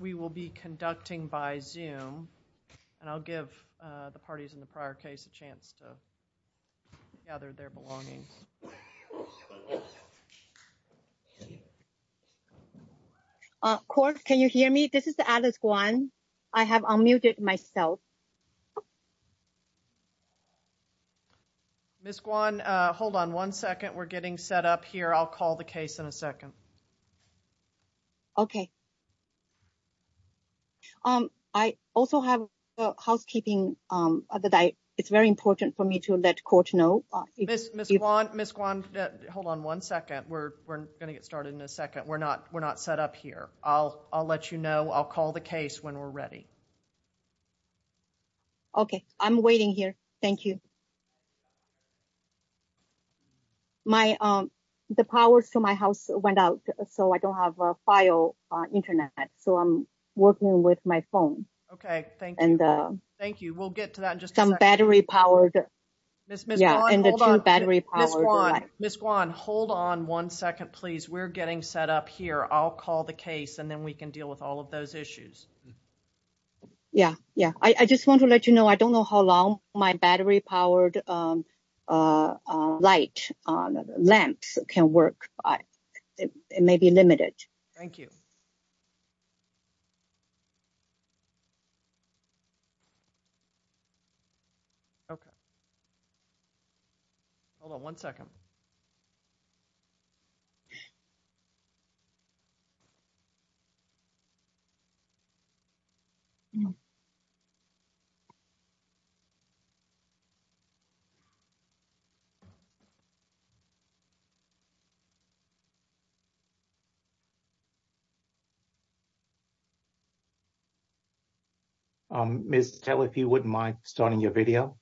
We will be conducting by Zoom, and I'll give the parties in the prior case a chance to gather their belongings. Of course, can you hear me? This is Alice Guan. I have unmuted myself. Ms. Guan, hold on one second. We're getting set up here. I'll call the case in a second. Okay. I also have housekeeping. It's very important for me to let the court know. Ms. Guan, hold on one second. We're going to get started in a second. We're not set up here. I'll let you know. I'll call the case when we're ready. Okay. I'm waiting here. Thank you. The power to my house went out, so I don't have a file on the Internet. So I'm working with my phone. Okay. Thank you. Thank you. We'll get to that in just a second. Some battery-powered. Ms. Guan, hold on one second, please. We're getting set up here. I'll call the case, and then we can deal with all of those issues. Yeah, yeah. I just want to let you know, I don't know how long my battery-powered light lamps can work. It may be limited. Thank you. Okay. Hold on one second. Miss Taylor, if you wouldn't mind starting your video.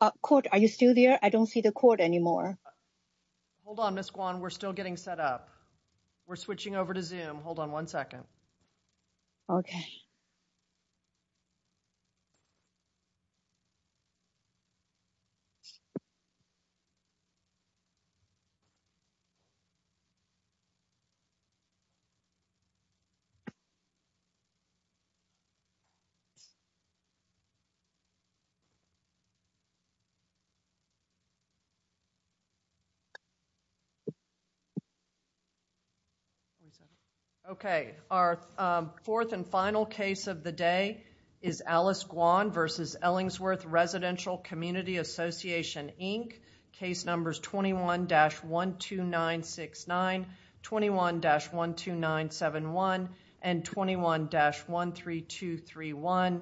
Thank you. Okay. Okay. Okay. Okay. Okay. Okay. Okay. Okay. Okay. Okay. Is it still there? I don't see the cord anymore. Hold on, Ms. Guan. We're still getting set up. We're switching over to Zoom. Hold on one second. Okay. Okay. Okay. Our fourth and final case of the day is Alice Guan versus Ellingsworth Residential Community Association, Inc. Case numbers 21-12969, 21-12971, and 21-13231.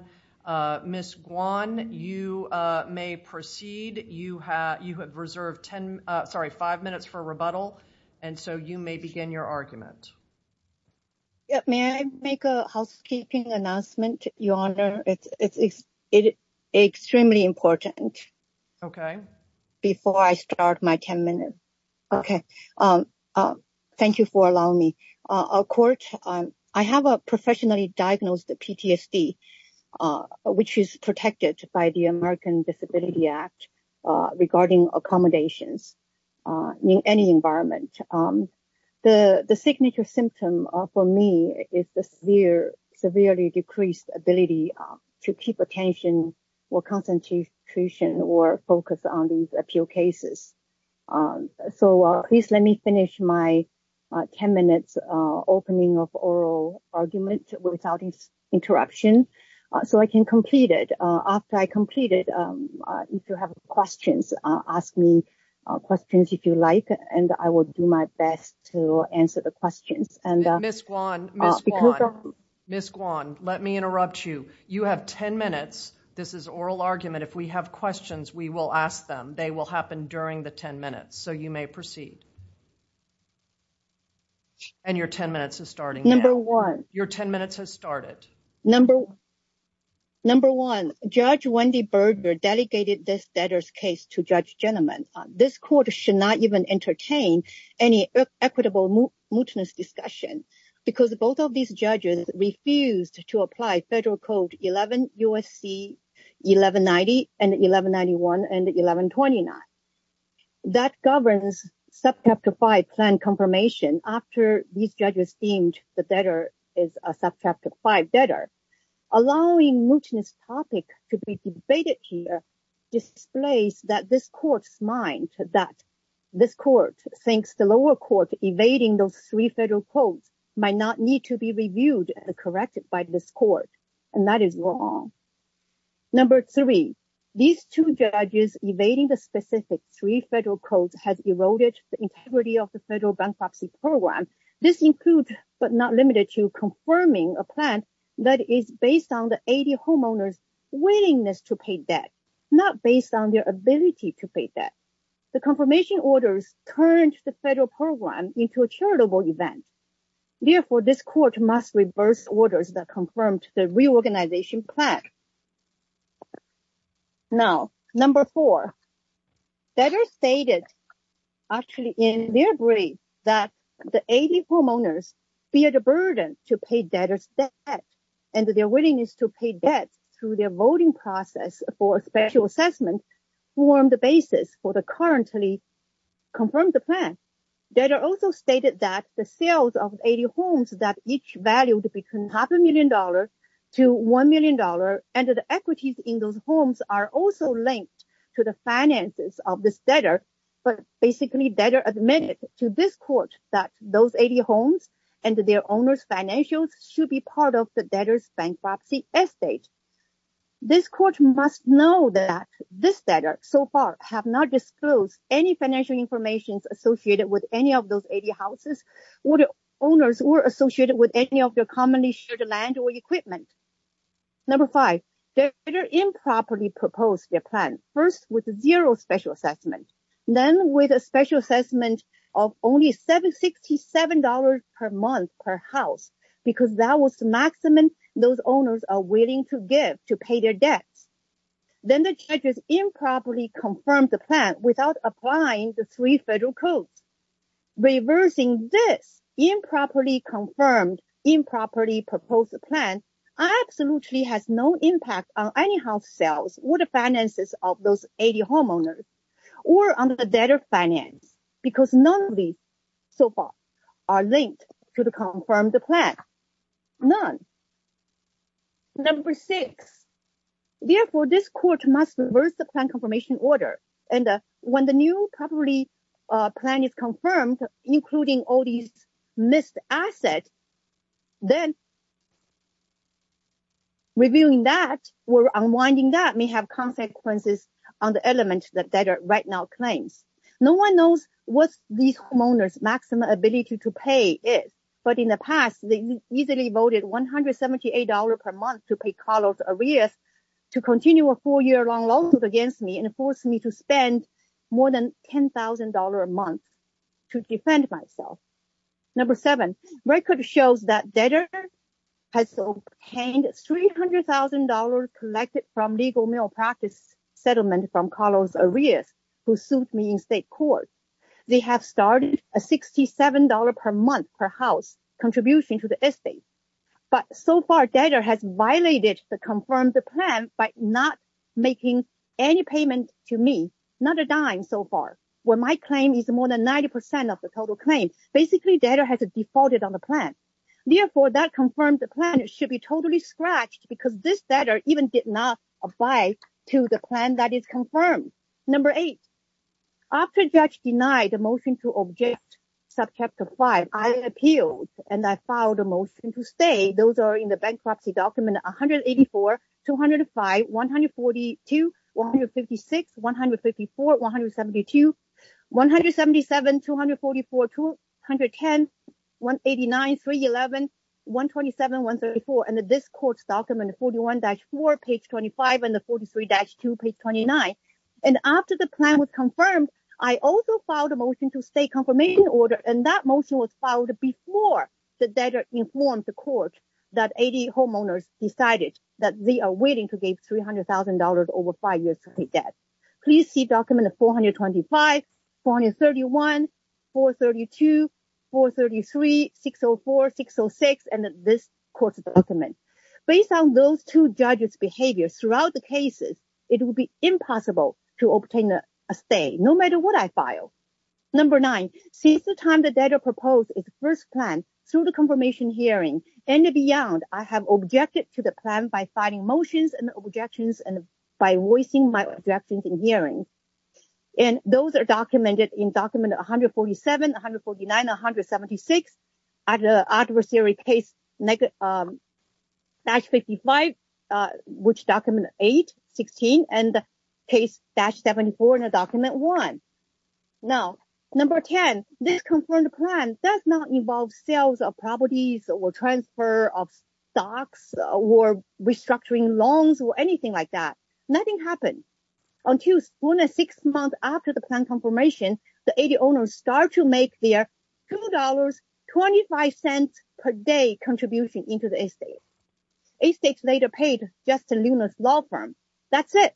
Ms. Guan, you may proceed. You have reserved five minutes for rebuttal, and so you may begin your argument. May I make a housekeeping announcement, Your Honor? It's extremely important. Okay. Before I start my ten minutes. Okay. Thank you for allowing me. I have a professionally diagnosed PTSD, which is protected by the American Disability Act regarding accommodations in any environment. The signature symptom for me is the severely decreased ability to keep attention or concentration or focus on these appeal cases. So please let me finish my ten minutes opening of oral argument without interruption so I can complete it. After I complete it, if you have questions, ask me questions if you like, and I will do my best to answer the questions. Ms. Guan, Ms. Guan, Ms. Guan, let me interrupt you. You have ten minutes. This is oral argument. If we have questions, we will ask them. They will happen during the ten minutes, so you may proceed. And your ten minutes is starting now. Number one. Your ten minutes has started. That governs subchapter five plan confirmation after these judges deemed the debtor is a subchapter five debtor. Allowing Mouton's topic to be debated here displays that this court's mind that this court thinks the lower court evading those three federal codes might not need to be reviewed and corrected by this court. And that is wrong. Number three. These two judges evading the specific three federal codes has eroded the integrity of the federal bankruptcy program. This includes, but not limited to, confirming a plan that is based on the AD homeowner's willingness to pay debt, not based on their ability to pay debt. The confirmation orders turned the federal program into a charitable event. Therefore, this court must reverse orders that confirmed the reorganization plan. Now, number four. Debtors stated, actually, in their brief, that the AD homeowners feared a burden to pay debtors' debt, and their willingness to pay debt through their voting process for a special assessment formed the basis for the currently confirmed plan. Debtors also stated that the sales of AD homes that each valued between half a million dollars to one million dollars and the equities in those homes are also linked to the finances of this debtor. But basically debtors admitted to this court that those AD homes and their owners' financials should be part of the debtors' bankruptcy estate. This court must know that this debtor, so far, have not disclosed any financial information associated with any of those AD houses, or the owners, or associated with any of their commonly shared land or equipment. Number five. Debtors improperly proposed their plan, first with zero special assessment, then with a special assessment of only $767 per month per house, because that was the maximum those owners are willing to give to pay their debts. Then the judges improperly confirmed the plan without applying the three federal codes. Reversing this improperly confirmed, improperly proposed plan absolutely has no impact on any house sales, or the finances of those AD homeowners, or on the debtor finance, because none of these, so far, are linked to the confirmed plan. None. Number six. Therefore, this court must reverse the plan confirmation order, and when the new properly plan is confirmed, including all these missed assets, then reviewing that or unwinding that may have consequences on the element that debtor right now claims. No one knows what these homeowners' maximum ability to pay is, but in the past, they easily voted $178 per month to pay Carlos Arias to continue a four-year-long lawsuit against me, and forced me to spend more than $10,000 a month to defend myself. Number seven. Record shows that debtor has obtained $300,000 collected from legal malpractice settlement from Carlos Arias, who sued me in state court. They have started a $67 per month per house contribution to the estate. But so far, debtor has violated the confirmed plan by not making any payment to me, not a dime so far, when my claim is more than 90% of the total claim. Basically, debtor has defaulted on the plan. Therefore, that confirmed plan should be totally scratched, because this debtor even did not apply to the plan that is confirmed. Number eight. After judge denied the motion to object subchapter five, I appealed, and I filed a motion to stay. Those are in the bankruptcy document 184, 205, 142, 156, 154, 172, 177, 244, 210, 189, 311, 127, 134, and the discourse document 41-4, page 25, and the 43-2, page 29. And after the plan was confirmed, I also filed a motion to stay confirmation order, and that motion was filed before the debtor informed the court that 88 homeowners decided that they are willing to give $300,000 over five years to pay debt. Please see document 425, 431, 432, 433, 604, 606, and this court's document. Based on those two judges' behavior throughout the cases, it would be impossible to obtain a stay, no matter what I file. Number nine. Since the time the debtor proposed its first plan through the confirmation hearing and beyond, I have objected to the plan by filing motions and objections and by voicing my objections in hearing. And those are documented in document 147, 149, 176, at the adversary case 55, which document 8, 16, and case 74 in document 1. Now, number 10. This confirmed plan does not involve sales of properties or transfer of stocks or restructuring loans or anything like that. Nothing happened. Until one or six months after the plan confirmation, the 80 owners start to make their $2.25 per day contribution into the estate. Eight states later paid Justin Luna's law firm. That's it.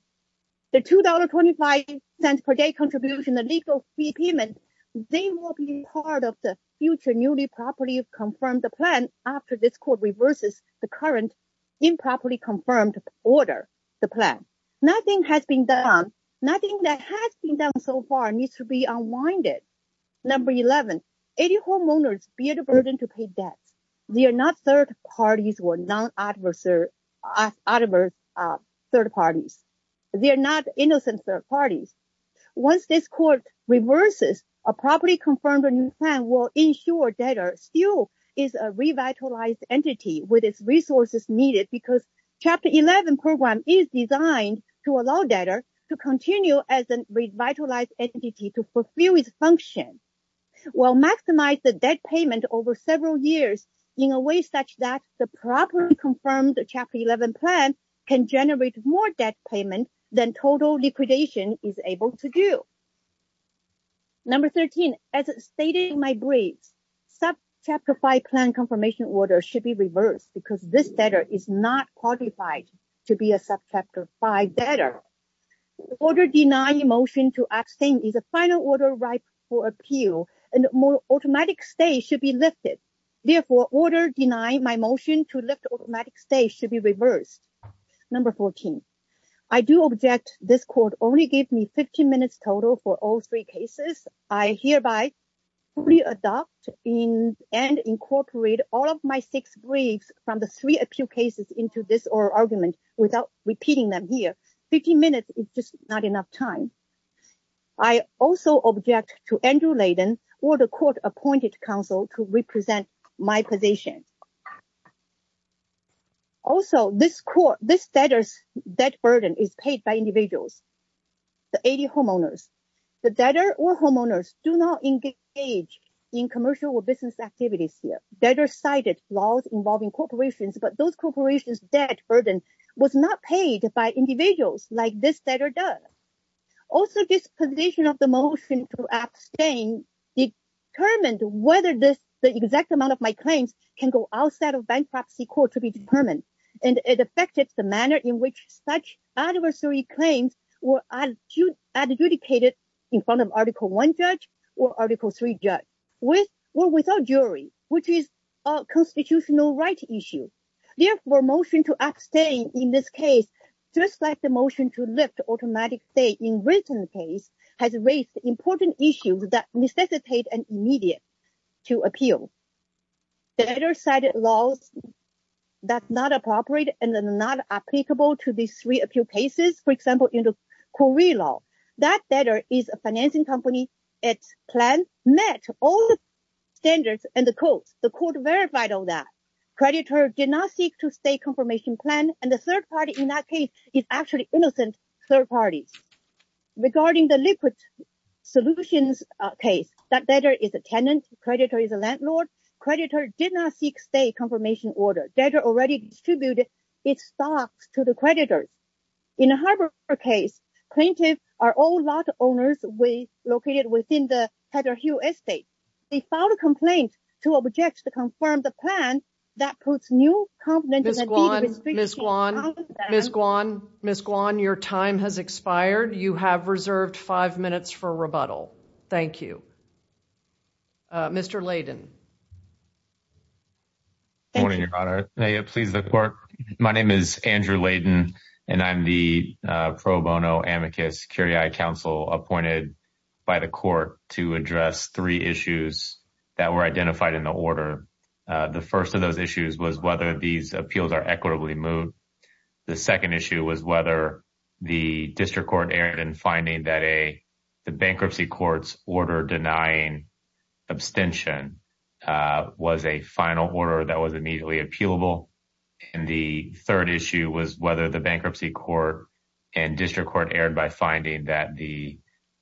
The $2.25 per day contribution, the legal fee payment, they will be part of the future newly properly confirmed plan after this court reverses the current improperly confirmed order, the plan. Nothing has been done. Nothing that has been done so far needs to be unwinded. Number 11, 80 homeowners bear the burden to pay debts. They are not third parties or non-adversary third parties. They are not innocent third parties. Once this court reverses, a properly confirmed plan will ensure debtor still is a revitalized entity with its resources needed because Chapter 11 program is designed to allow debtor to continue as a revitalized entity to fulfill its function. Well, maximize the debt payment over several years in a way such that the properly confirmed Chapter 11 plan can generate more debt payment than total liquidation is able to do. Number 13, as stated in my brief, sub-Chapter 5 plan confirmation order should be reversed because this debtor is not qualified to be a sub-Chapter 5 debtor. Order denying a motion to abstain is a final order ripe for appeal and automatic stay should be lifted. Therefore, order denying my motion to lift automatic stay should be reversed. Number 14, I do object this court only gave me 15 minutes total for all three cases. I hereby fully adopt and incorporate all of my six briefs from the three appeal cases into this oral argument without repeating them here. 15 minutes is just not enough time. I also object to Andrew Layden or the court appointed counsel to represent my position. Also, this debtor's debt burden is paid by individuals, the AD homeowners. The debtor or homeowners do not engage in commercial or business activities here. Debtor cited laws involving corporations, but those corporations' debt burden was not paid by individuals like this debtor does. Also, this position of the motion to abstain determined whether the exact amount of my claims can go outside of bankruptcy court to be determined, and it affected the manner in which such adversary claims were adjudicated in front of Article 1 judge or Article 3 judge, with or without jury, which is a constitutional right issue. Therefore, motion to abstain in this case, just like the motion to lift automatic stay in written case, has raised important issues that necessitate an immediate to appeal. Debtor cited laws that are not appropriate and are not applicable to these three appeal cases. For example, in the Cori law, that debtor is a financing company, its plan met all the standards and the codes. The court verified all that. That debtor is a tenant. Creditor is a landlord. Creditor did not seek stay confirmation order. Debtor already distributed its stocks to the creditors. In a harbor case, plaintiff are all lot owners located within the Heatherhue estate. They filed a complaint to object to confirm the plan that puts new confidentiality restrictions on them. Ms. Guan, Ms. Guan, your time has expired. You have reserved five minutes for rebuttal. Thank you. Mr. Layden. Morning, Your Honor. May it please the court. My name is Andrew Layden, and I'm the pro bono amicus curiae counsel appointed by the court to address three issues that were identified in the order. The first of those issues was whether these appeals are equitably moved. The second issue was whether the district court erred in finding that a bankruptcy court's order denying abstention was a final order that was immediately appealable. And the third issue was whether the bankruptcy court and district court erred by finding that the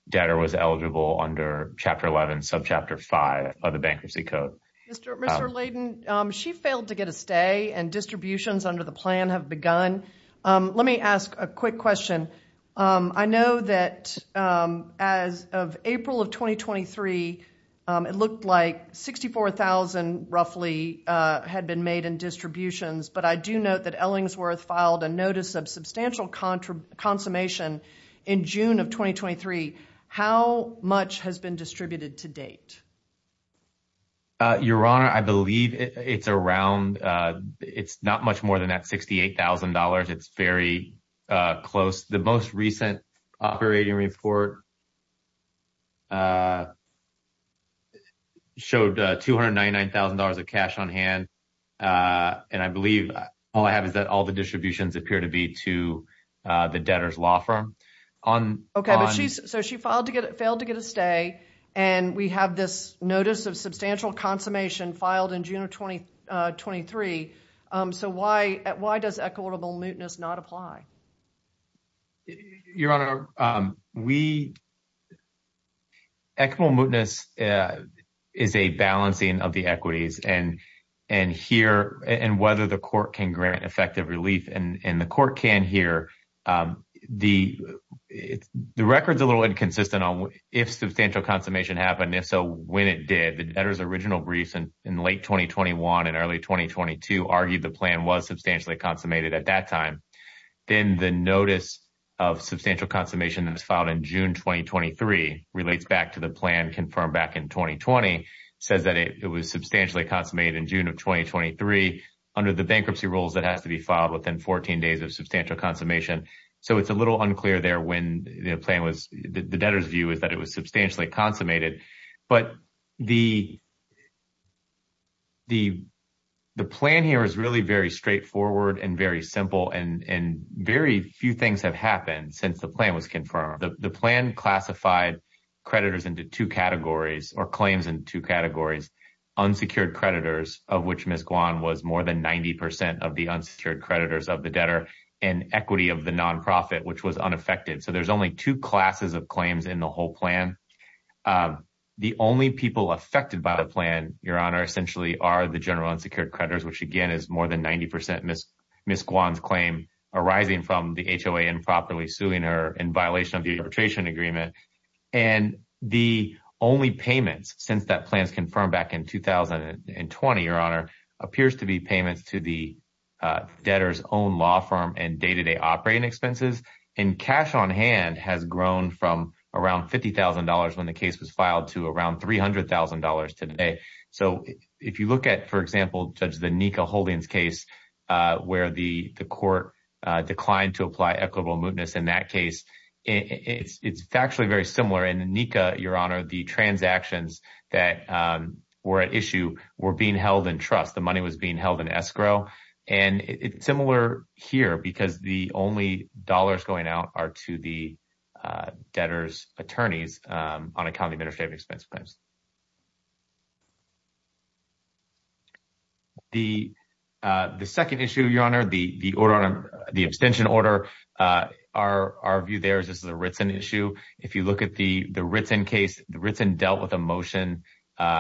debtor was eligible under Chapter 11, Subchapter 5 of the Bankruptcy Code. Mr. Layden, she failed to get a stay and distributions under the plan have begun. Let me ask a quick question. I know that as of April of 2023, it looked like 64,000 roughly had been made in distributions. But I do note that Ellingsworth filed a notice of substantial consummation in June of 2023. How much has been distributed to date? Your Honor, I believe it's around, it's not much more than that $68,000. It's very close. The most recent operating report showed $299,000 of cash on hand. And I believe all I have is that all the distributions appear to be to the debtor's law firm. Okay, so she failed to get a stay and we have this notice of substantial consummation filed in June of 2023. So why does equitable mootness not apply? Your Honor, equitable mootness is a balancing of the equities and whether the court can grant effective relief. And the court can here. The record's a little inconsistent on if substantial consummation happened. If so, when it did, the debtor's original briefs in late 2021 and early 2022 argued the plan was substantially consummated at that time. Then the notice of substantial consummation that was filed in June 2023 relates back to the plan confirmed back in 2020. It says that it was substantially consummated in June of 2023 under the bankruptcy rules that has to be filed within 14 days of substantial consummation. So it's a little unclear there when the plan was, the debtor's view is that it was substantially consummated. But the plan here is really very straightforward and very simple and very few things have happened since the plan was confirmed. The plan classified creditors into two categories or claims in two categories. Unsecured creditors of which Ms. Guan was more than 90% of the unsecured creditors of the debtor and equity of the nonprofit, which was unaffected. So there's only two classes of claims in the whole plan. The only people affected by the plan, Your Honor, essentially are the general unsecured creditors, which again is more than 90% Ms. Ms. Guan's claim arising from the HOA improperly suing her in violation of the arbitration agreement. And the only payments since that plan is confirmed back in 2020, Your Honor, appears to be payments to the debtor's own law firm and day to day operating expenses. And cash on hand has grown from around $50,000 when the case was filed to around $300,000 today. So if you look at, for example, Judge the Nika Holdings case where the court declined to apply equitable mootness in that case, it's actually very similar. And Nika, Your Honor, the transactions that were at issue were being held in trust. The money was being held in escrow. And it's similar here because the only dollars going out are to the debtor's attorneys on a county administrative expense plans. The second issue, Your Honor, the order, the abstention order, our view there is this is a written issue. If you look at the written case, the written dealt with emotion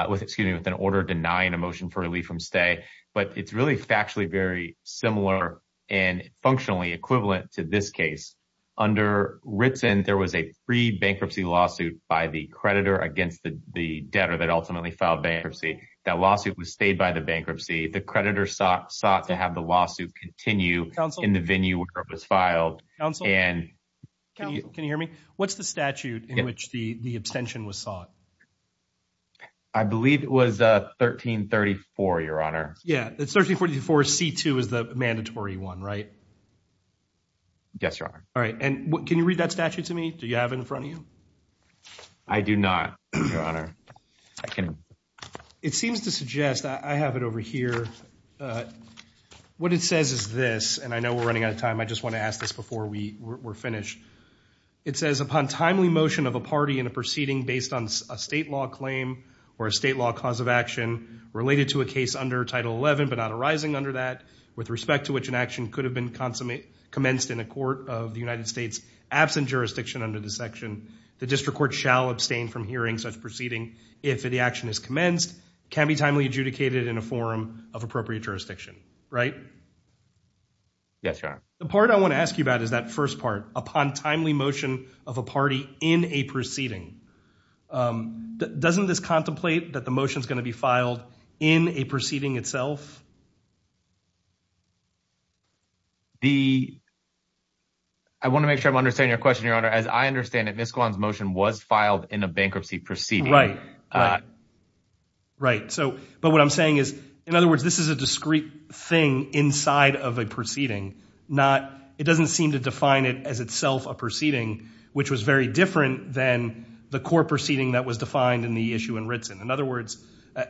with excuse me, with an order denying a motion for relief from stay. But it's really factually very similar and functionally equivalent to this case. Under written, there was a free bankruptcy lawsuit by the creditor against the debtor that ultimately filed bankruptcy. That lawsuit was stayed by the bankruptcy. The creditor sought sought to have the lawsuit continue in the venue where it was filed. And can you hear me? What's the statute in which the abstention was sought? I believe it was 1334, Your Honor. Yeah, it's 1344 C2 is the mandatory one, right? Yes, Your Honor. All right. And can you read that statute to me? Do you have in front of you? I do not, Your Honor. It seems to suggest that I have it over here. What it says is this, and I know we're running out of time. I just want to ask this before we were finished. It says upon timely motion of a party in a proceeding based on a state law claim or a state law cause of action related to a case under Title 11, but not arising under that. With respect to which an action could have been consummate commenced in a court of the United States absent jurisdiction under the section. The district court shall abstain from hearing such proceeding. If the action is commenced, can be timely adjudicated in a forum of appropriate jurisdiction, right? Yes, Your Honor. The part I want to ask you about is that first part upon timely motion of a party in a proceeding. Doesn't this contemplate that the motion is going to be filed in a proceeding itself? The. I want to make sure I'm understanding your question, Your Honor. As I understand it, Miss Kwan's motion was filed in a bankruptcy proceeding, right? Right. So but what I'm saying is, in other words, this is a discrete thing inside of a proceeding. Not it doesn't seem to define it as itself a proceeding, which was very different than the court proceeding that was defined in the issue in Ritzen. In other words,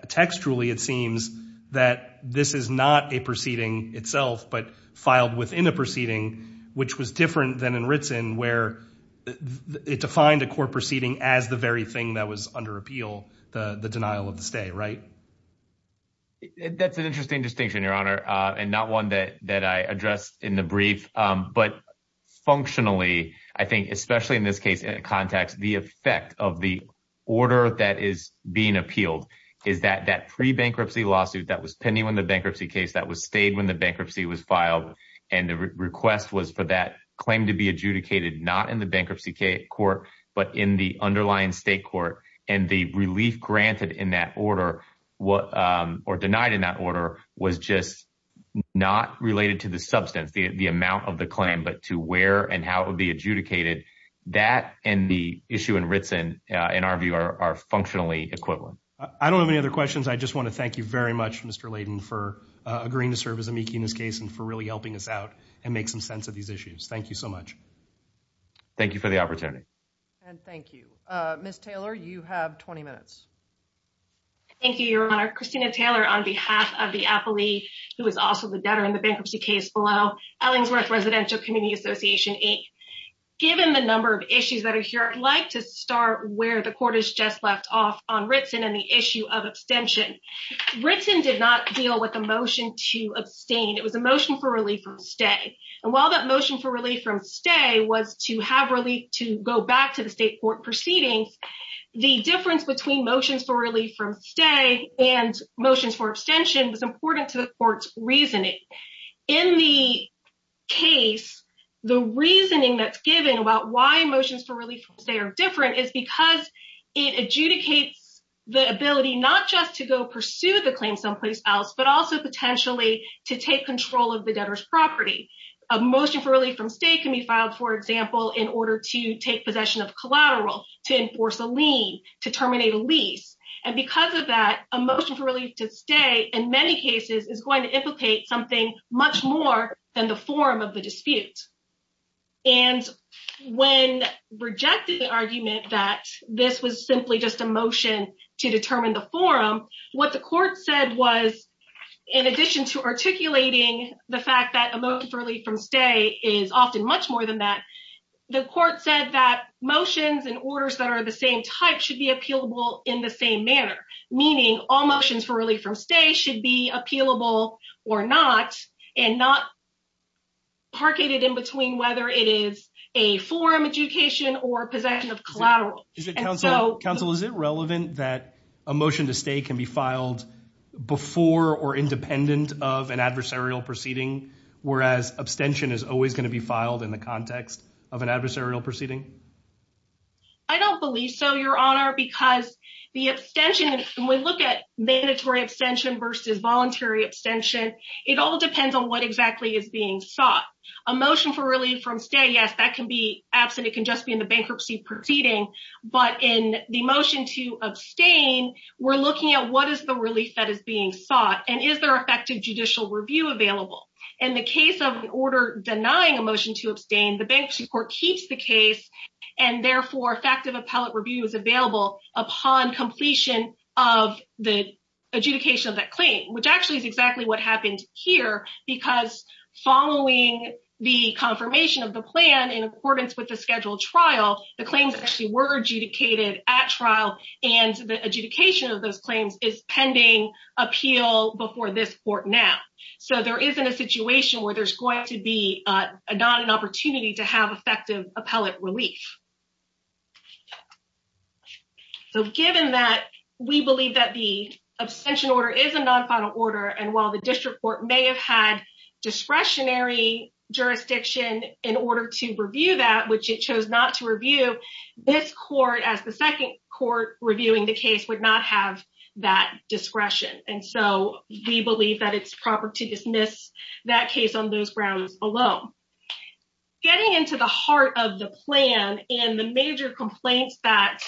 textually, it seems that this is not a proceeding itself, but filed within a proceeding, which was different than in Ritzen, where it defined a court proceeding as the very thing that was under appeal. The denial of the stay, right? That's an interesting distinction, Your Honor, and not one that that I addressed in the brief. But functionally, I think, especially in this case, in a context, the effect of the order that is being appealed is that that pre-bankruptcy lawsuit that was pending when the bankruptcy case that was stayed when the bankruptcy was filed. And the request was for that claim to be adjudicated, not in the bankruptcy court, but in the underlying state court. And the relief granted in that order or denied in that order was just not related to the substance, the amount of the claim, but to where and how it would be adjudicated. That and the issue in Ritzen, in our view, are functionally equivalent. I don't have any other questions. I just want to thank you very much, Mr. Layden, for agreeing to serve as amici in this case and for really helping us out and make some sense of these issues. Thank you so much. Thank you for the opportunity. And thank you. Ms. Taylor, you have 20 minutes. Thank you, Your Honor. On behalf of the appellee, who is also the debtor in the bankruptcy case below, Ellingsworth Residential Community Association, given the number of issues that are here, I'd like to start where the court has just left off on Ritzen and the issue of abstention. Ritzen did not deal with a motion to abstain. It was a motion for relief from stay. And while that motion for relief from stay was to have relief to go back to the state court proceedings, the difference between motions for relief from stay and motions for abstention was important to the court's reasoning. In the case, the reasoning that's given about why motions for relief from stay are different is because it adjudicates the ability not just to go pursue the claim someplace else, but also potentially to take control of the debtor's property. A motion for relief from stay can be filed, for example, in order to take possession of collateral, to enforce a lien, to terminate a lease. And because of that, a motion for relief to stay, in many cases, is going to implicate something much more than the forum of the dispute. And when rejected the argument that this was simply just a motion to determine the forum, what the court said was, in addition to articulating the fact that a motion for relief from stay is often much more than that, the court said that motions and orders that are the same type should be appealable in the same manner, meaning all motions for relief from stay should be appealable or not, and not parketed in between whether it is a forum adjudication or possession of collateral. Counsel, is it relevant that a motion to stay can be filed before or independent of an adversarial proceeding, whereas abstention is always going to be filed in the context of an adversarial proceeding? I don't believe so, Your Honor, because the abstention, when we look at mandatory abstention versus voluntary abstention, it all depends on what exactly is being sought. A motion for relief from stay, yes, that can be absent, it can just be in the bankruptcy proceeding, but in the motion to abstain, we're looking at what is the relief that is being sought, and is there effective judicial review available? In the case of an order denying a motion to abstain, the bankruptcy court keeps the case, and therefore effective appellate review is available upon completion of the adjudication of that claim, which actually is exactly what happened here, because following the confirmation of the plan in accordance with the scheduled trial, the claims actually were adjudicated at trial, and the adjudication of those claims is pending appeal before this court now. So there isn't a situation where there's going to be not an opportunity to have effective appellate relief. So given that we believe that the abstention order is a non-final order, and while the district court may have had discretionary jurisdiction in order to review that, which it chose not to review, this court, as the second court reviewing the case, would not have that discretion, and so we believe that it's proper to dismiss that case on those grounds alone. Getting into the heart of the plan and the major complaints that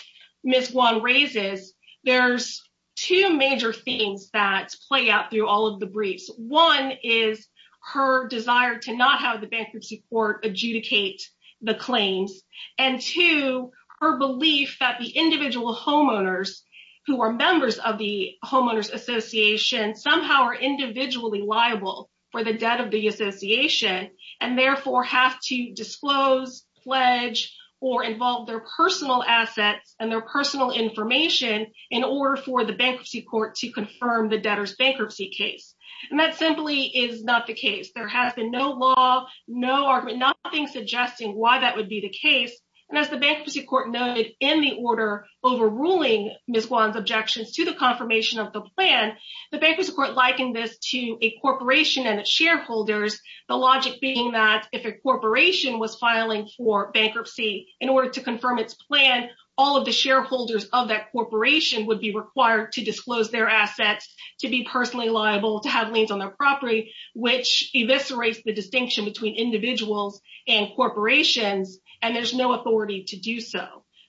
Ms. Guan raises, there's two major themes that play out through all of the briefs. One is her desire to not have the bankruptcy court adjudicate the claims, and two, her belief that the individual homeowners who are members of the homeowners association somehow are individually liable for the debt of the association, and therefore have to disclose, pledge, or involve their personal assets and their personal information in order for the bankruptcy court to confirm the debtor's bankruptcy case. And that simply is not the case. There has been no law, no argument, nothing suggesting why that would be the case, and as the bankruptcy court noted in the order overruling Ms. Guan's objections to the confirmation of the plan, the bankruptcy court likened this to a corporation and its shareholders, the logic being that if a corporation was filing for bankruptcy in order to confirm its plan, all of the shareholders of that corporation would be required to disclose their assets, to be personally liable, to have liens on their property, which eviscerates the distinction between individuals and corporations, and there's no authority to do so.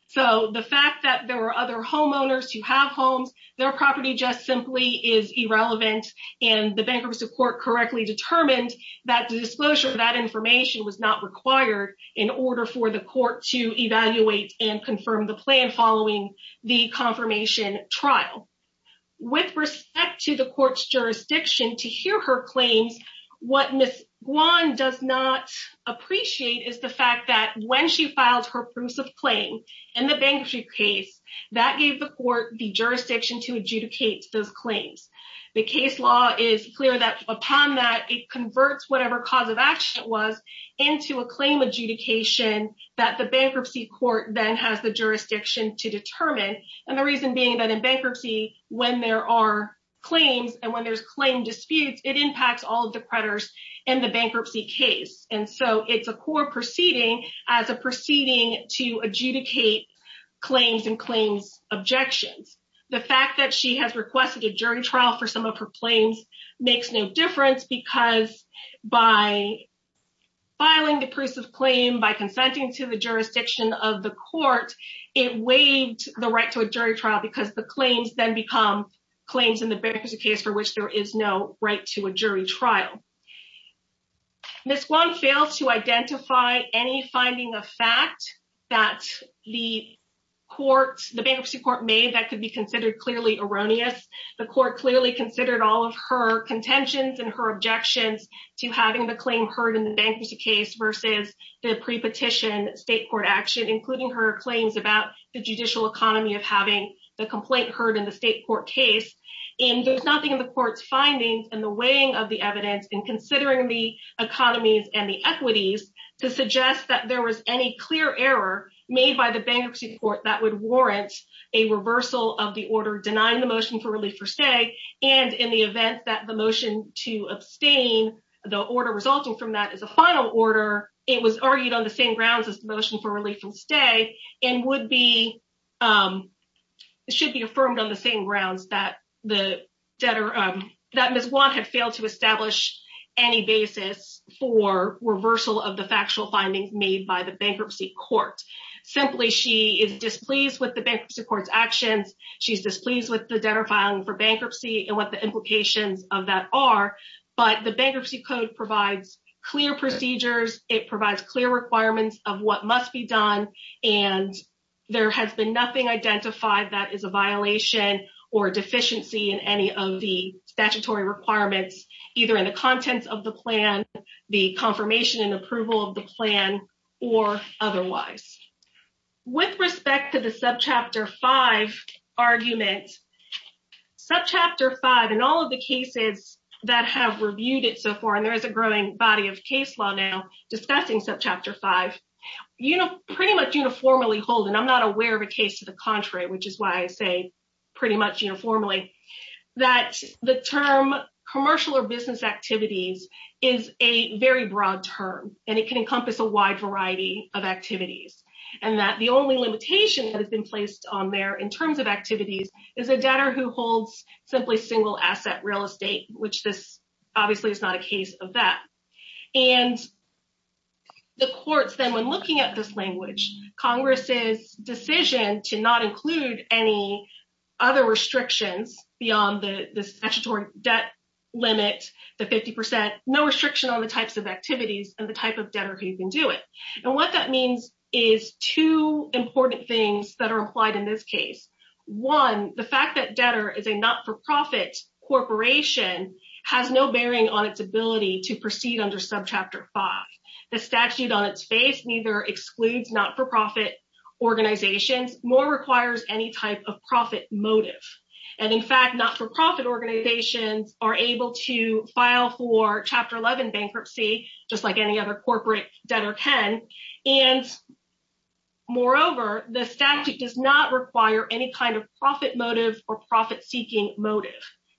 So the fact that there were other homeowners who have homes, their property just simply is irrelevant, and the bankruptcy court correctly determined that the disclosure of that information was not required in order for the court to evaluate and confirm the plan following the confirmation trial. With respect to the court's jurisdiction, to hear her claims, what Ms. Guan does not appreciate is the fact that when she filed her prusive claim in the bankruptcy case, that gave the court the jurisdiction to adjudicate those claims. The case law is clear that upon that, it converts whatever cause of action it was into a claim adjudication that the bankruptcy court then has the jurisdiction to determine, and the reason being that in bankruptcy, when there are claims and when there's claim disputes, it impacts all of the creditors in the bankruptcy case, and so it's a core proceeding as a proceeding to adjudicate claims and claims objections. The fact that she has requested a jury trial for some of her claims makes no difference because by filing the prusive claim, by consenting to the jurisdiction of the court, it waived the right to a jury trial because the claims then become claims in the bankruptcy case for which there is no right to a jury trial. Ms. Guan fails to identify any finding of fact that the bankruptcy court made that could be considered clearly erroneous. The court clearly considered all of her contentions and her objections to having the claim heard in the bankruptcy case versus the pre-petition state court action, including her claims about the judicial economy of having the complaint heard in the state court case, and there's nothing in the court's findings in the weighing of the evidence in considering the economies and the equities to suggest that there was any clear error made by the bankruptcy court that would warrant a reversal of the order denying the motion for relief for stay, and in the event that the motion to abstain, the order resulting from that is a final order, it was argued on the same grounds as the motion for relief from stay and should be affirmed on the same grounds that Ms. Guan had failed to establish any basis for reversal of the factual findings made by the bankruptcy court. Simply, she is displeased with the bankruptcy court's actions, she's displeased with the debtor filing for bankruptcy and what the implications of that are, but the bankruptcy code provides clear procedures, it provides clear requirements of what must be done, and there has been nothing identified that is a violation or deficiency in any of the statutory requirements, either in the contents of the plan, the confirmation and approval of the plan, or otherwise. With respect to the Subchapter 5 argument, Subchapter 5 and all of the cases that have reviewed it so far, and there is a growing body of case law now discussing Subchapter 5, you know, pretty much uniformly hold, and I'm not aware of a case to the contrary, which is why I say pretty much uniformly, that the term commercial or business activities is a very broad term, and it can encompass a wide variety of activities, and that the only limitation that has been placed on there in terms of activities is a debtor who holds simply single asset real estate, which this obviously is not a case of that. And the courts then, when looking at this language, Congress's decision to not include any other restrictions beyond the statutory debt limit, the 50%, no restriction on the types of activities and the type of debtor who can do it. And what that means is two important things that are applied in this case. One, the fact that debtor is a not-for-profit corporation has no bearing on its ability to proceed under Subchapter 5. The statute on its face neither excludes not-for-profit organizations, nor requires any type of profit motive. And in fact, not-for-profit organizations are able to file for Chapter 11 bankruptcy, just like any other corporate debtor can. And moreover, the statute does not require any kind of profit motive or profit-seeking motive.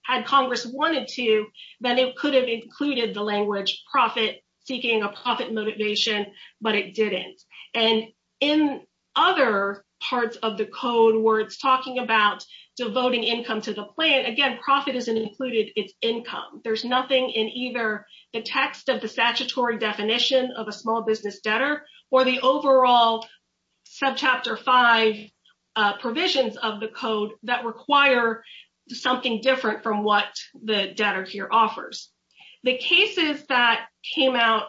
Had Congress wanted to, then it could have included the language profit-seeking or profit motivation, but it didn't. And in other parts of the code where it's talking about devoting income to the plan, again, profit isn't included its income. There's nothing in either the text of the statutory definition of a small business debtor or the overall Subchapter 5 provisions of the code that require something different from what the debtor here offers. The cases that came out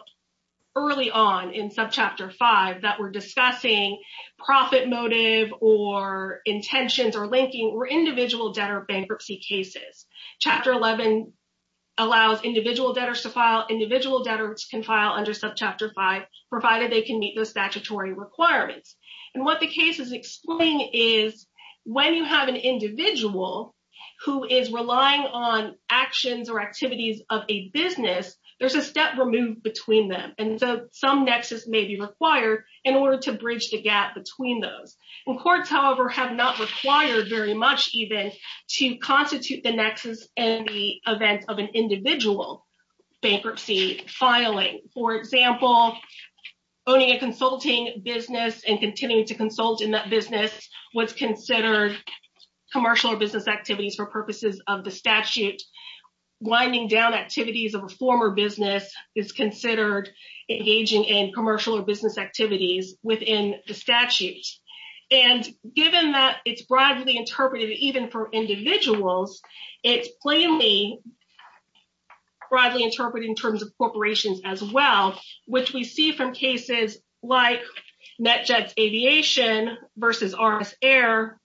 early on in Subchapter 5 that were discussing profit motive or intentions or linking were individual debtor bankruptcy cases. Chapter 11 allows individual debtors to file. Individual debtors can file under Subchapter 5, provided they can meet the statutory requirements. And what the cases explain is when you have an individual who is relying on actions or activities of a business, there's a step removed between them. And so some nexus may be required in order to bridge the gap between those. In courts, however, have not required very much even to constitute the nexus in the event of an individual bankruptcy filing. For example, owning a consulting business and continuing to consult in that business was considered commercial or business activities for purposes of the statute. Winding down activities of a former business is considered engaging in commercial or business activities within the statute. And given that it's broadly interpreted, even for individuals, it's plainly broadly interpreted in terms of corporations as well, which we see from cases like NetJets Aviation versus NRA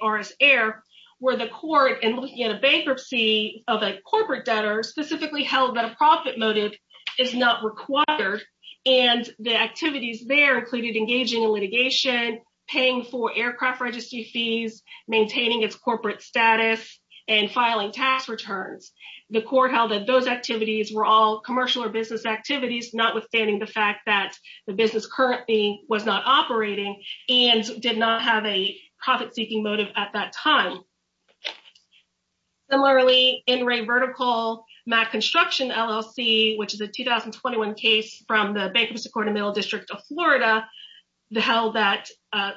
RS Air, where the court, in looking at a bankruptcy of a corporate debtor, specifically held that a profit motive is not required. And the activities there included engaging in litigation, paying for aircraft registry fees, maintaining its corporate status, and filing tax returns. The court held that those activities were all commercial or business activities, notwithstanding the fact that the business currently was not operating and did not have a profit-seeking motive at that time. Similarly, NRA Vertical MAC Construction LLC, which is a 2021 case from the Bank of Mississippi Corridor Middle District of Florida, held that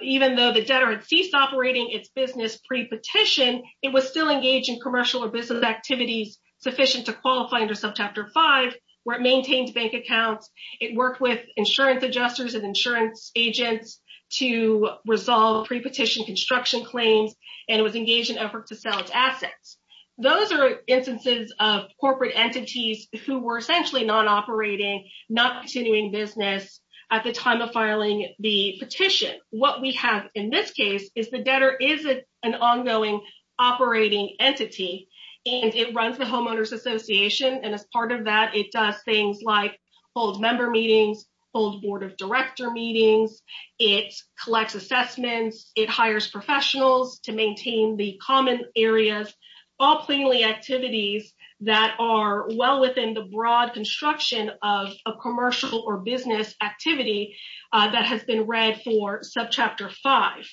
even though the debtor had ceased operating its business pre-petition, it was still engaged in commercial or business activities sufficient to qualify under Subchapter 5, where it maintained bank accounts. It worked with insurance adjusters and insurance agents to resolve pre-petition construction claims and was engaged in efforts to sell its assets. Those are instances of corporate entities who were essentially non-operating, not continuing business at the time of filing the petition. What we have in this case is the debtor is an ongoing operating entity, and it runs the Homeowners Association. And as part of that, it does things like hold member meetings, hold board of director meetings. It collects assessments. It hires professionals to maintain the common areas, all plainly activities that are well within the broad construction of a commercial or business activity that has been read for Subchapter 5.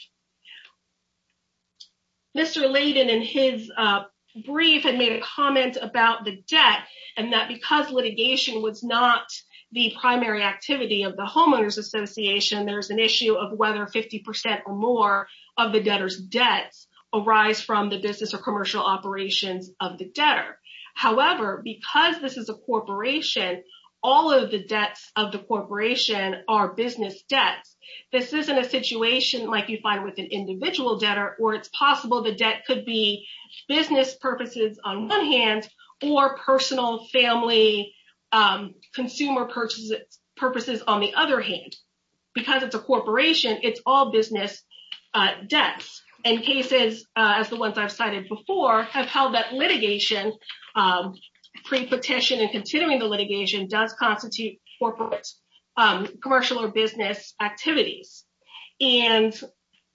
Mr. Layden, in his brief, had made a comment about the debt and that because litigation was not the primary activity of the Homeowners Association, there's an issue of whether 50% or more of the debtor's debts arise from the business or commercial operations of the debtor. However, because this is a corporation, all of the debts of the corporation are business debts. This isn't a situation like you find with an individual debtor where it's possible the debt could be business purposes on one hand or personal family consumer purposes on the other hand. Because it's a corporation, it's all business debts. And cases, as the ones I've cited before, have held that litigation, pre-petition and continuing the litigation, does constitute corporate commercial or business activities. And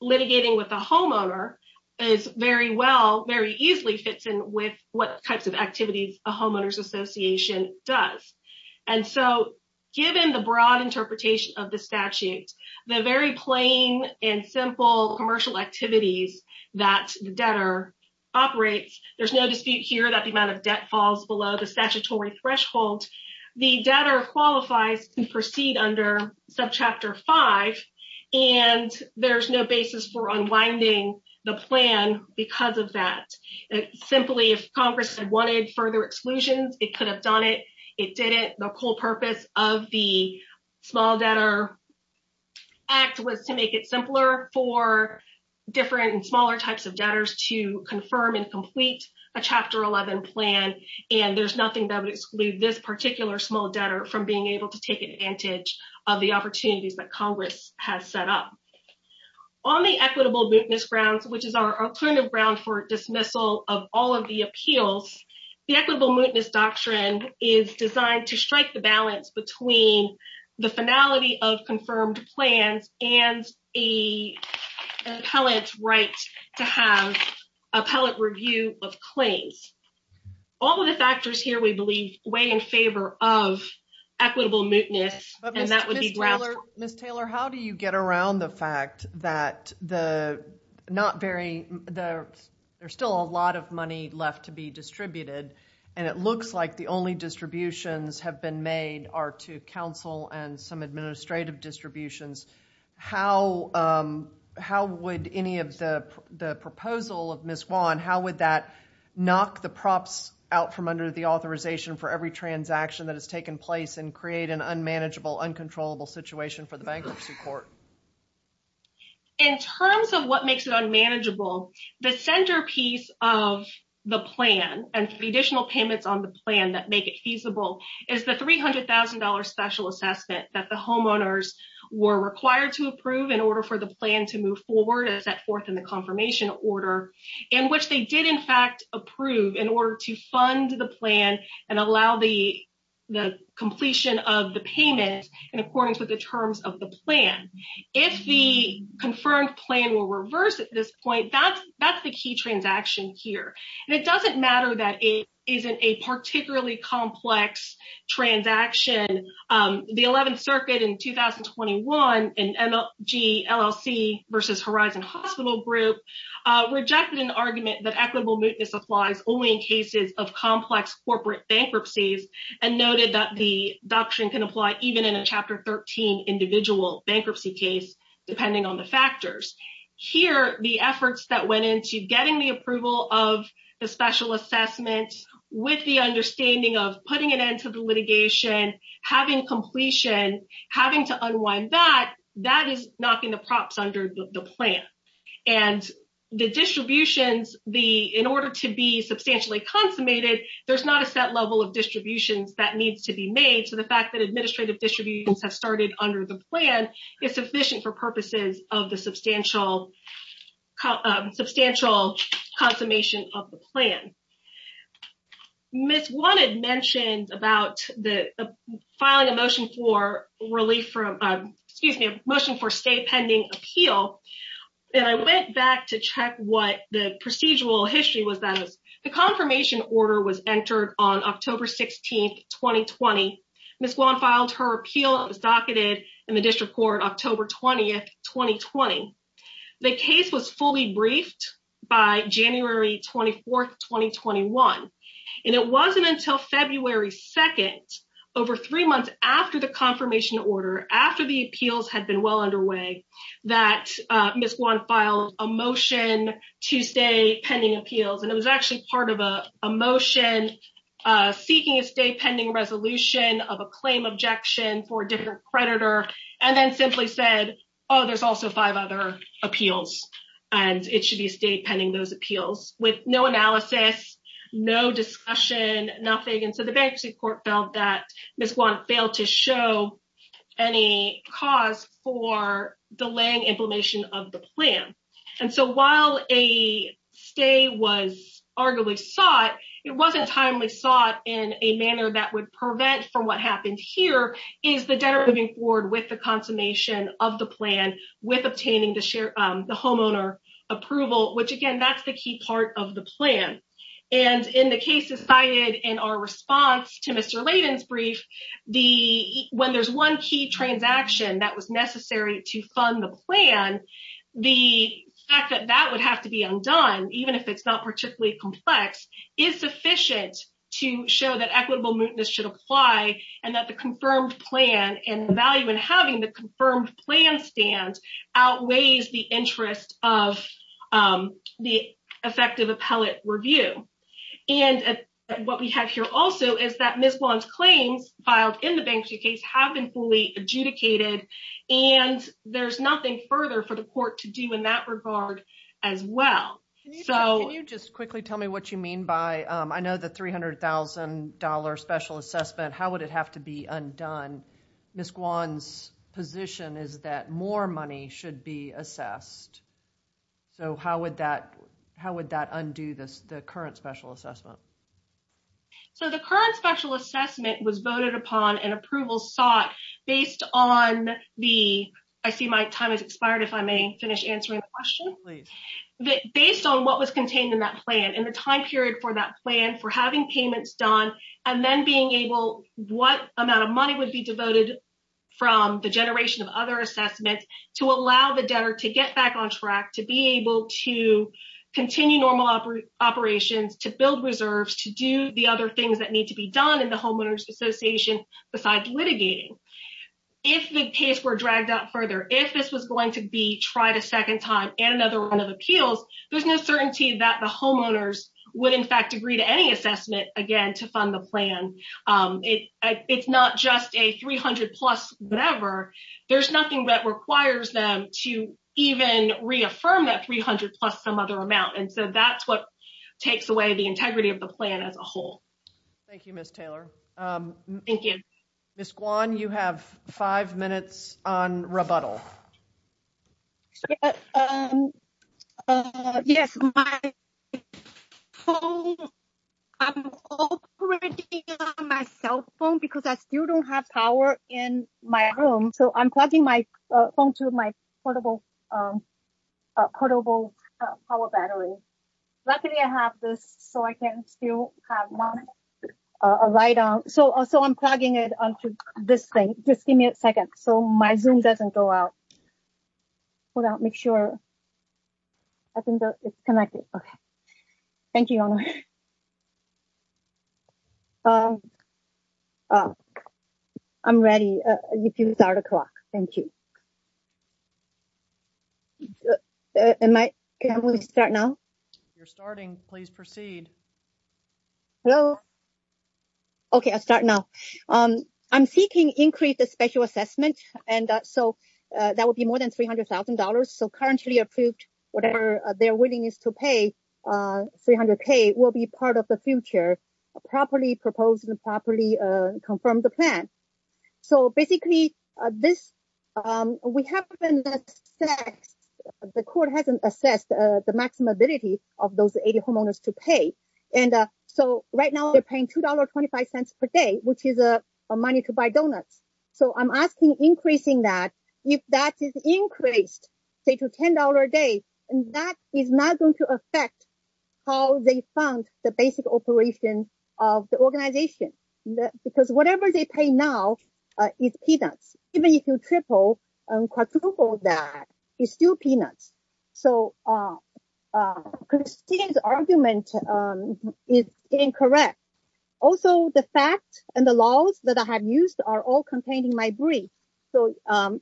litigating with a homeowner is very well, very easily fits in with what types of activities a Homeowners Association does. And so, given the broad interpretation of the statute, the very plain and simple commercial activities that the debtor operates, there's no dispute here that the amount of debt falls below the statutory threshold. The debtor qualifies to proceed under Subchapter 5 and there's no basis for unwinding the plan because of that. Simply, if Congress had wanted further exclusions, it could have done it. It didn't. The whole purpose of the Small Debtor Act was to make it simpler for different and smaller types of debtors to confirm and complete a Chapter 11 plan. And there's nothing that would exclude this particular small debtor from being able to take advantage of the opportunities that Congress has set up. On the equitable mootness grounds, which is our alternative ground for dismissal of all of the appeals, the equitable mootness doctrine is designed to strike the balance between the finality of confirmed plans and an appellate's right to have appellate review of claims. All of the factors here, we believe, weigh in favor of equitable mootness. Ms. Taylor, how do you get around the fact that there's still a lot of money left to be distributed and it looks like the only distributions have been made are to counsel and some administrative distributions. How would any of the proposal of Ms. Juan, how would that knock the props out from under the authorization for every transaction that has taken place and create an unmanageable, uncontrollable situation for the bankruptcy court? In terms of what makes it unmanageable, the centerpiece of the plan and the additional payments on the plan that make it feasible is the $300,000 special assessment that the homeowners were required to approve in order for the plan to move forward as set forth in the confirmation order. In which they did, in fact, approve in order to fund the plan and allow the completion of the payment in accordance with the terms of the plan. If the confirmed plan will reverse at this point, that's the key transaction here. And it doesn't matter that it isn't a particularly complex transaction. The 11th Circuit in 2021 and LG LLC versus Horizon Hospital Group rejected an argument that equitable mootness applies only in cases of complex corporate bankruptcies. And noted that the doctrine can apply even in a Chapter 13 individual bankruptcy case, depending on the factors. Here, the efforts that went into getting the approval of the special assessment with the understanding of putting an end to the litigation, having completion, having to unwind that, that is knocking the props under the plan. And the distributions, in order to be substantially consummated, there's not a set level of distributions that needs to be made. So the fact that administrative distributions have started under the plan is sufficient for purposes of the substantial consummation of the plan. Ms. Guan had mentioned about the filing a motion for relief from, excuse me, a motion for stay pending appeal. And I went back to check what the procedural history was that the confirmation order was entered on October 16, 2020. Ms. Guan filed her appeal. It was docketed in the district court October 20, 2020. The case was fully briefed by January 24, 2021. And it wasn't until February 2nd, over three months after the confirmation order, after the appeals had been well underway, that Ms. Guan filed a motion to stay pending appeals. And it was actually part of a motion seeking a stay pending resolution of a claim objection for a different creditor. And then simply said, oh, there's also five other appeals, and it should be a stay pending those appeals with no analysis, no discussion, nothing. And so the bankruptcy court felt that Ms. Guan failed to show any cause for delaying implementation of the plan. And so while a stay was arguably sought, it wasn't timely sought in a manner that would prevent from what happened here, is the debtor moving forward with the consummation of the plan with obtaining the share, the homeowner approval, which, again, that's the key part of the plan. And in the cases cited in our response to Mr. Layden's brief, when there's one key transaction that was necessary to fund the plan, the fact that that would have to be undone, even if it's not particularly complex, is sufficient to show that equitable mootness should apply and that the confirmed plan and value in having the confirmed plan stands outweighs the interest of the effective appellate review. And what we have here also is that Ms. Guan's claims filed in the bankruptcy case have been fully adjudicated, and there's nothing further for the court to do in that regard as well. Can you just quickly tell me what you mean by, I know the $300,000 special assessment, how would it have to be undone? Ms. Guan's position is that more money should be assessed. So how would that undo the current special assessment? So the current special assessment was voted upon and approval sought based on the, I see my time has expired if I may finish answering the question. Based on what was contained in that plan and the time period for that plan for having payments done and then being able, what amount of money would be devoted from the generation of other assessments to allow the debtor to get back on track, to be able to continue normal operations, to build reserves, to do the other things that need to be done in the homeowners association besides litigating. If the case were dragged out further, if this was going to be tried a second time and another run of appeals, there's no certainty that the homeowners would in fact agree to any assessment again to fund the plan. It's not just a 300 plus whatever. There's nothing that requires them to even reaffirm that 300 plus some other amount. And so that's what takes away the integrity of the plan as a whole. Thank you, Ms. Taylor. Thank you. Ms. Guan, you have five minutes on rebuttal. Yes, my phone, I'm operating on my cell phone because I still don't have power in my room. So I'm plugging my phone to my portable, portable power battery. Luckily I have this so I can still have a light on. So I'm plugging it onto this thing. Just give me a second so my Zoom doesn't go out. Hold on, make sure. I think it's connected. Thank you. I'm ready. Thank you. Can I start now? If you're starting, please proceed. Hello? Okay, I'll start now. I'm seeking increased special assessment. And so that would be more than $300,000. So currently approved, whatever their willingness to pay, 300K will be part of the future. Properly proposed and properly confirmed the plan. So basically, we haven't assessed, the court hasn't assessed the maximum ability of those 80 homeowners to pay. And so right now they're paying $2.25 per day, which is money to buy donuts. So I'm asking increasing that. If that is increased, say to $10 a day, that is not going to affect how they fund the basic operation of the organization. Because whatever they pay now is peanuts. Even if you triple or quadruple that, it's still peanuts. So Christine's argument is incorrect. Also, the fact and the laws that I have used are all contained in my brief. So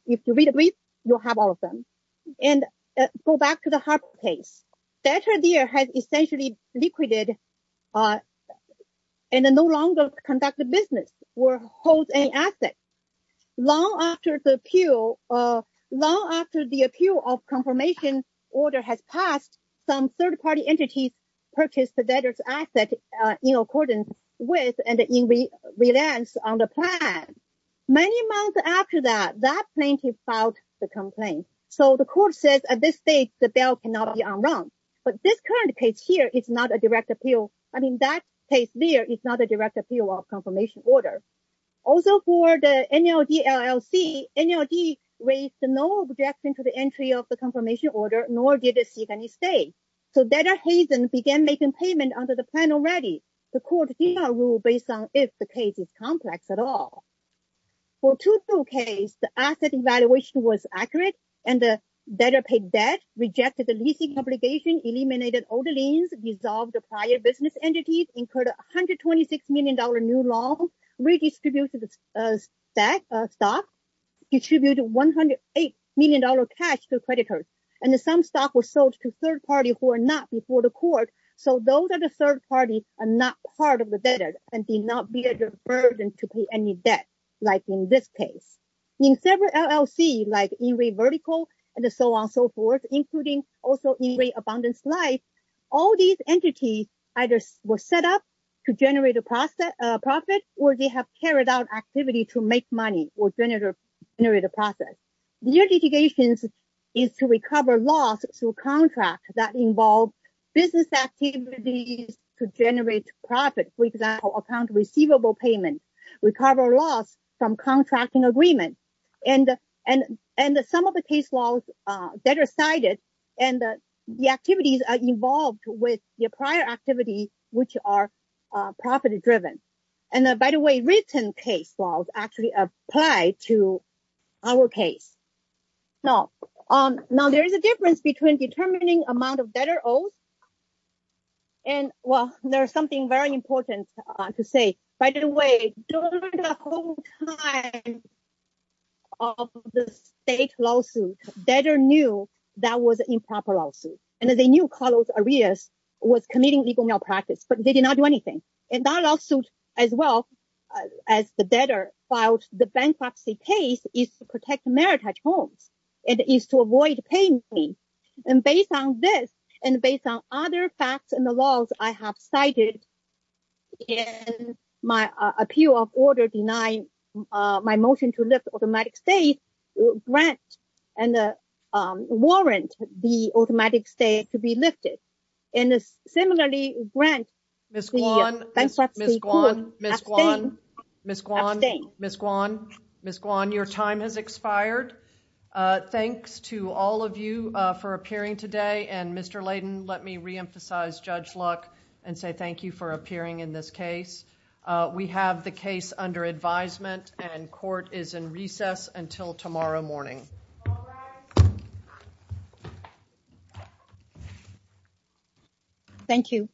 if you read the brief, you'll have all of them. Go back to the Hartford case. Debtor there had essentially liquidated and no longer conducted business or holds any assets. Long after the appeal of confirmation order has passed, some third-party entities purchased the debtor's asset in accordance with and in reliance on the plan. Many months after that, that plaintiff filed the complaint. So the court says at this stage, the bail cannot be on run. But this current case here is not a direct appeal. I mean, that case there is not a direct appeal of confirmation order. Also for the NLD LLC, NLD raised no objection to the entry of the confirmation order, nor did it seek any stay. So Debtor Hazen began making payment under the plan already. The court did not rule based on if the case is complex at all. For 2-2 case, the asset evaluation was accurate and the debtor paid debt, rejected the leasing obligation, eliminated all the liens, dissolved the prior business entities, incurred $126 million new loan, redistributed the stock, distributed $108 million cash to creditors. And some stock was sold to third parties who were not before the court. So those are the third parties are not part of the debtor and did not bear the burden to pay any debt, like in this case. In several LLC, like In-Rate Vertical and so on and so forth, including also In-Rate Abundance Life, all these entities either were set up to generate a profit or they have carried out activity to make money or generate a profit. Their litigation is to recover loss through contracts that involve business activities to generate profit, for example, account receivable payment, recover loss from contracting agreements. And some of the case laws that are cited and the activities are involved with your prior activity, which are profit-driven. And by the way, written case laws actually apply to our case. Now, there is a difference between determining amount of debtor owes. And, well, there's something very important to say. By the way, during the whole time of the state lawsuit, debtor knew that was improper lawsuit. And they knew Carlos Arias was committing legal malpractice, but they did not do anything. And that lawsuit, as well as the debtor filed the bankruptcy case, is to protect Meritage Homes. It is to avoid paying me. And based on this and based on other facts and the laws I have cited in my appeal of order denying my motion to lift automatic stay, grant and warrant the automatic stay to be lifted. And similarly, grant. Ms. Guan, Ms. Guan, Ms. Guan, Ms. Guan, Ms. Guan, Ms. Guan, your time has expired. Thanks to all of you for appearing today. And Mr. Layden, let me reemphasize Judge Luck and say thank you for appearing in this case. We have the case under advisement and court is in recess until tomorrow morning. Thank you.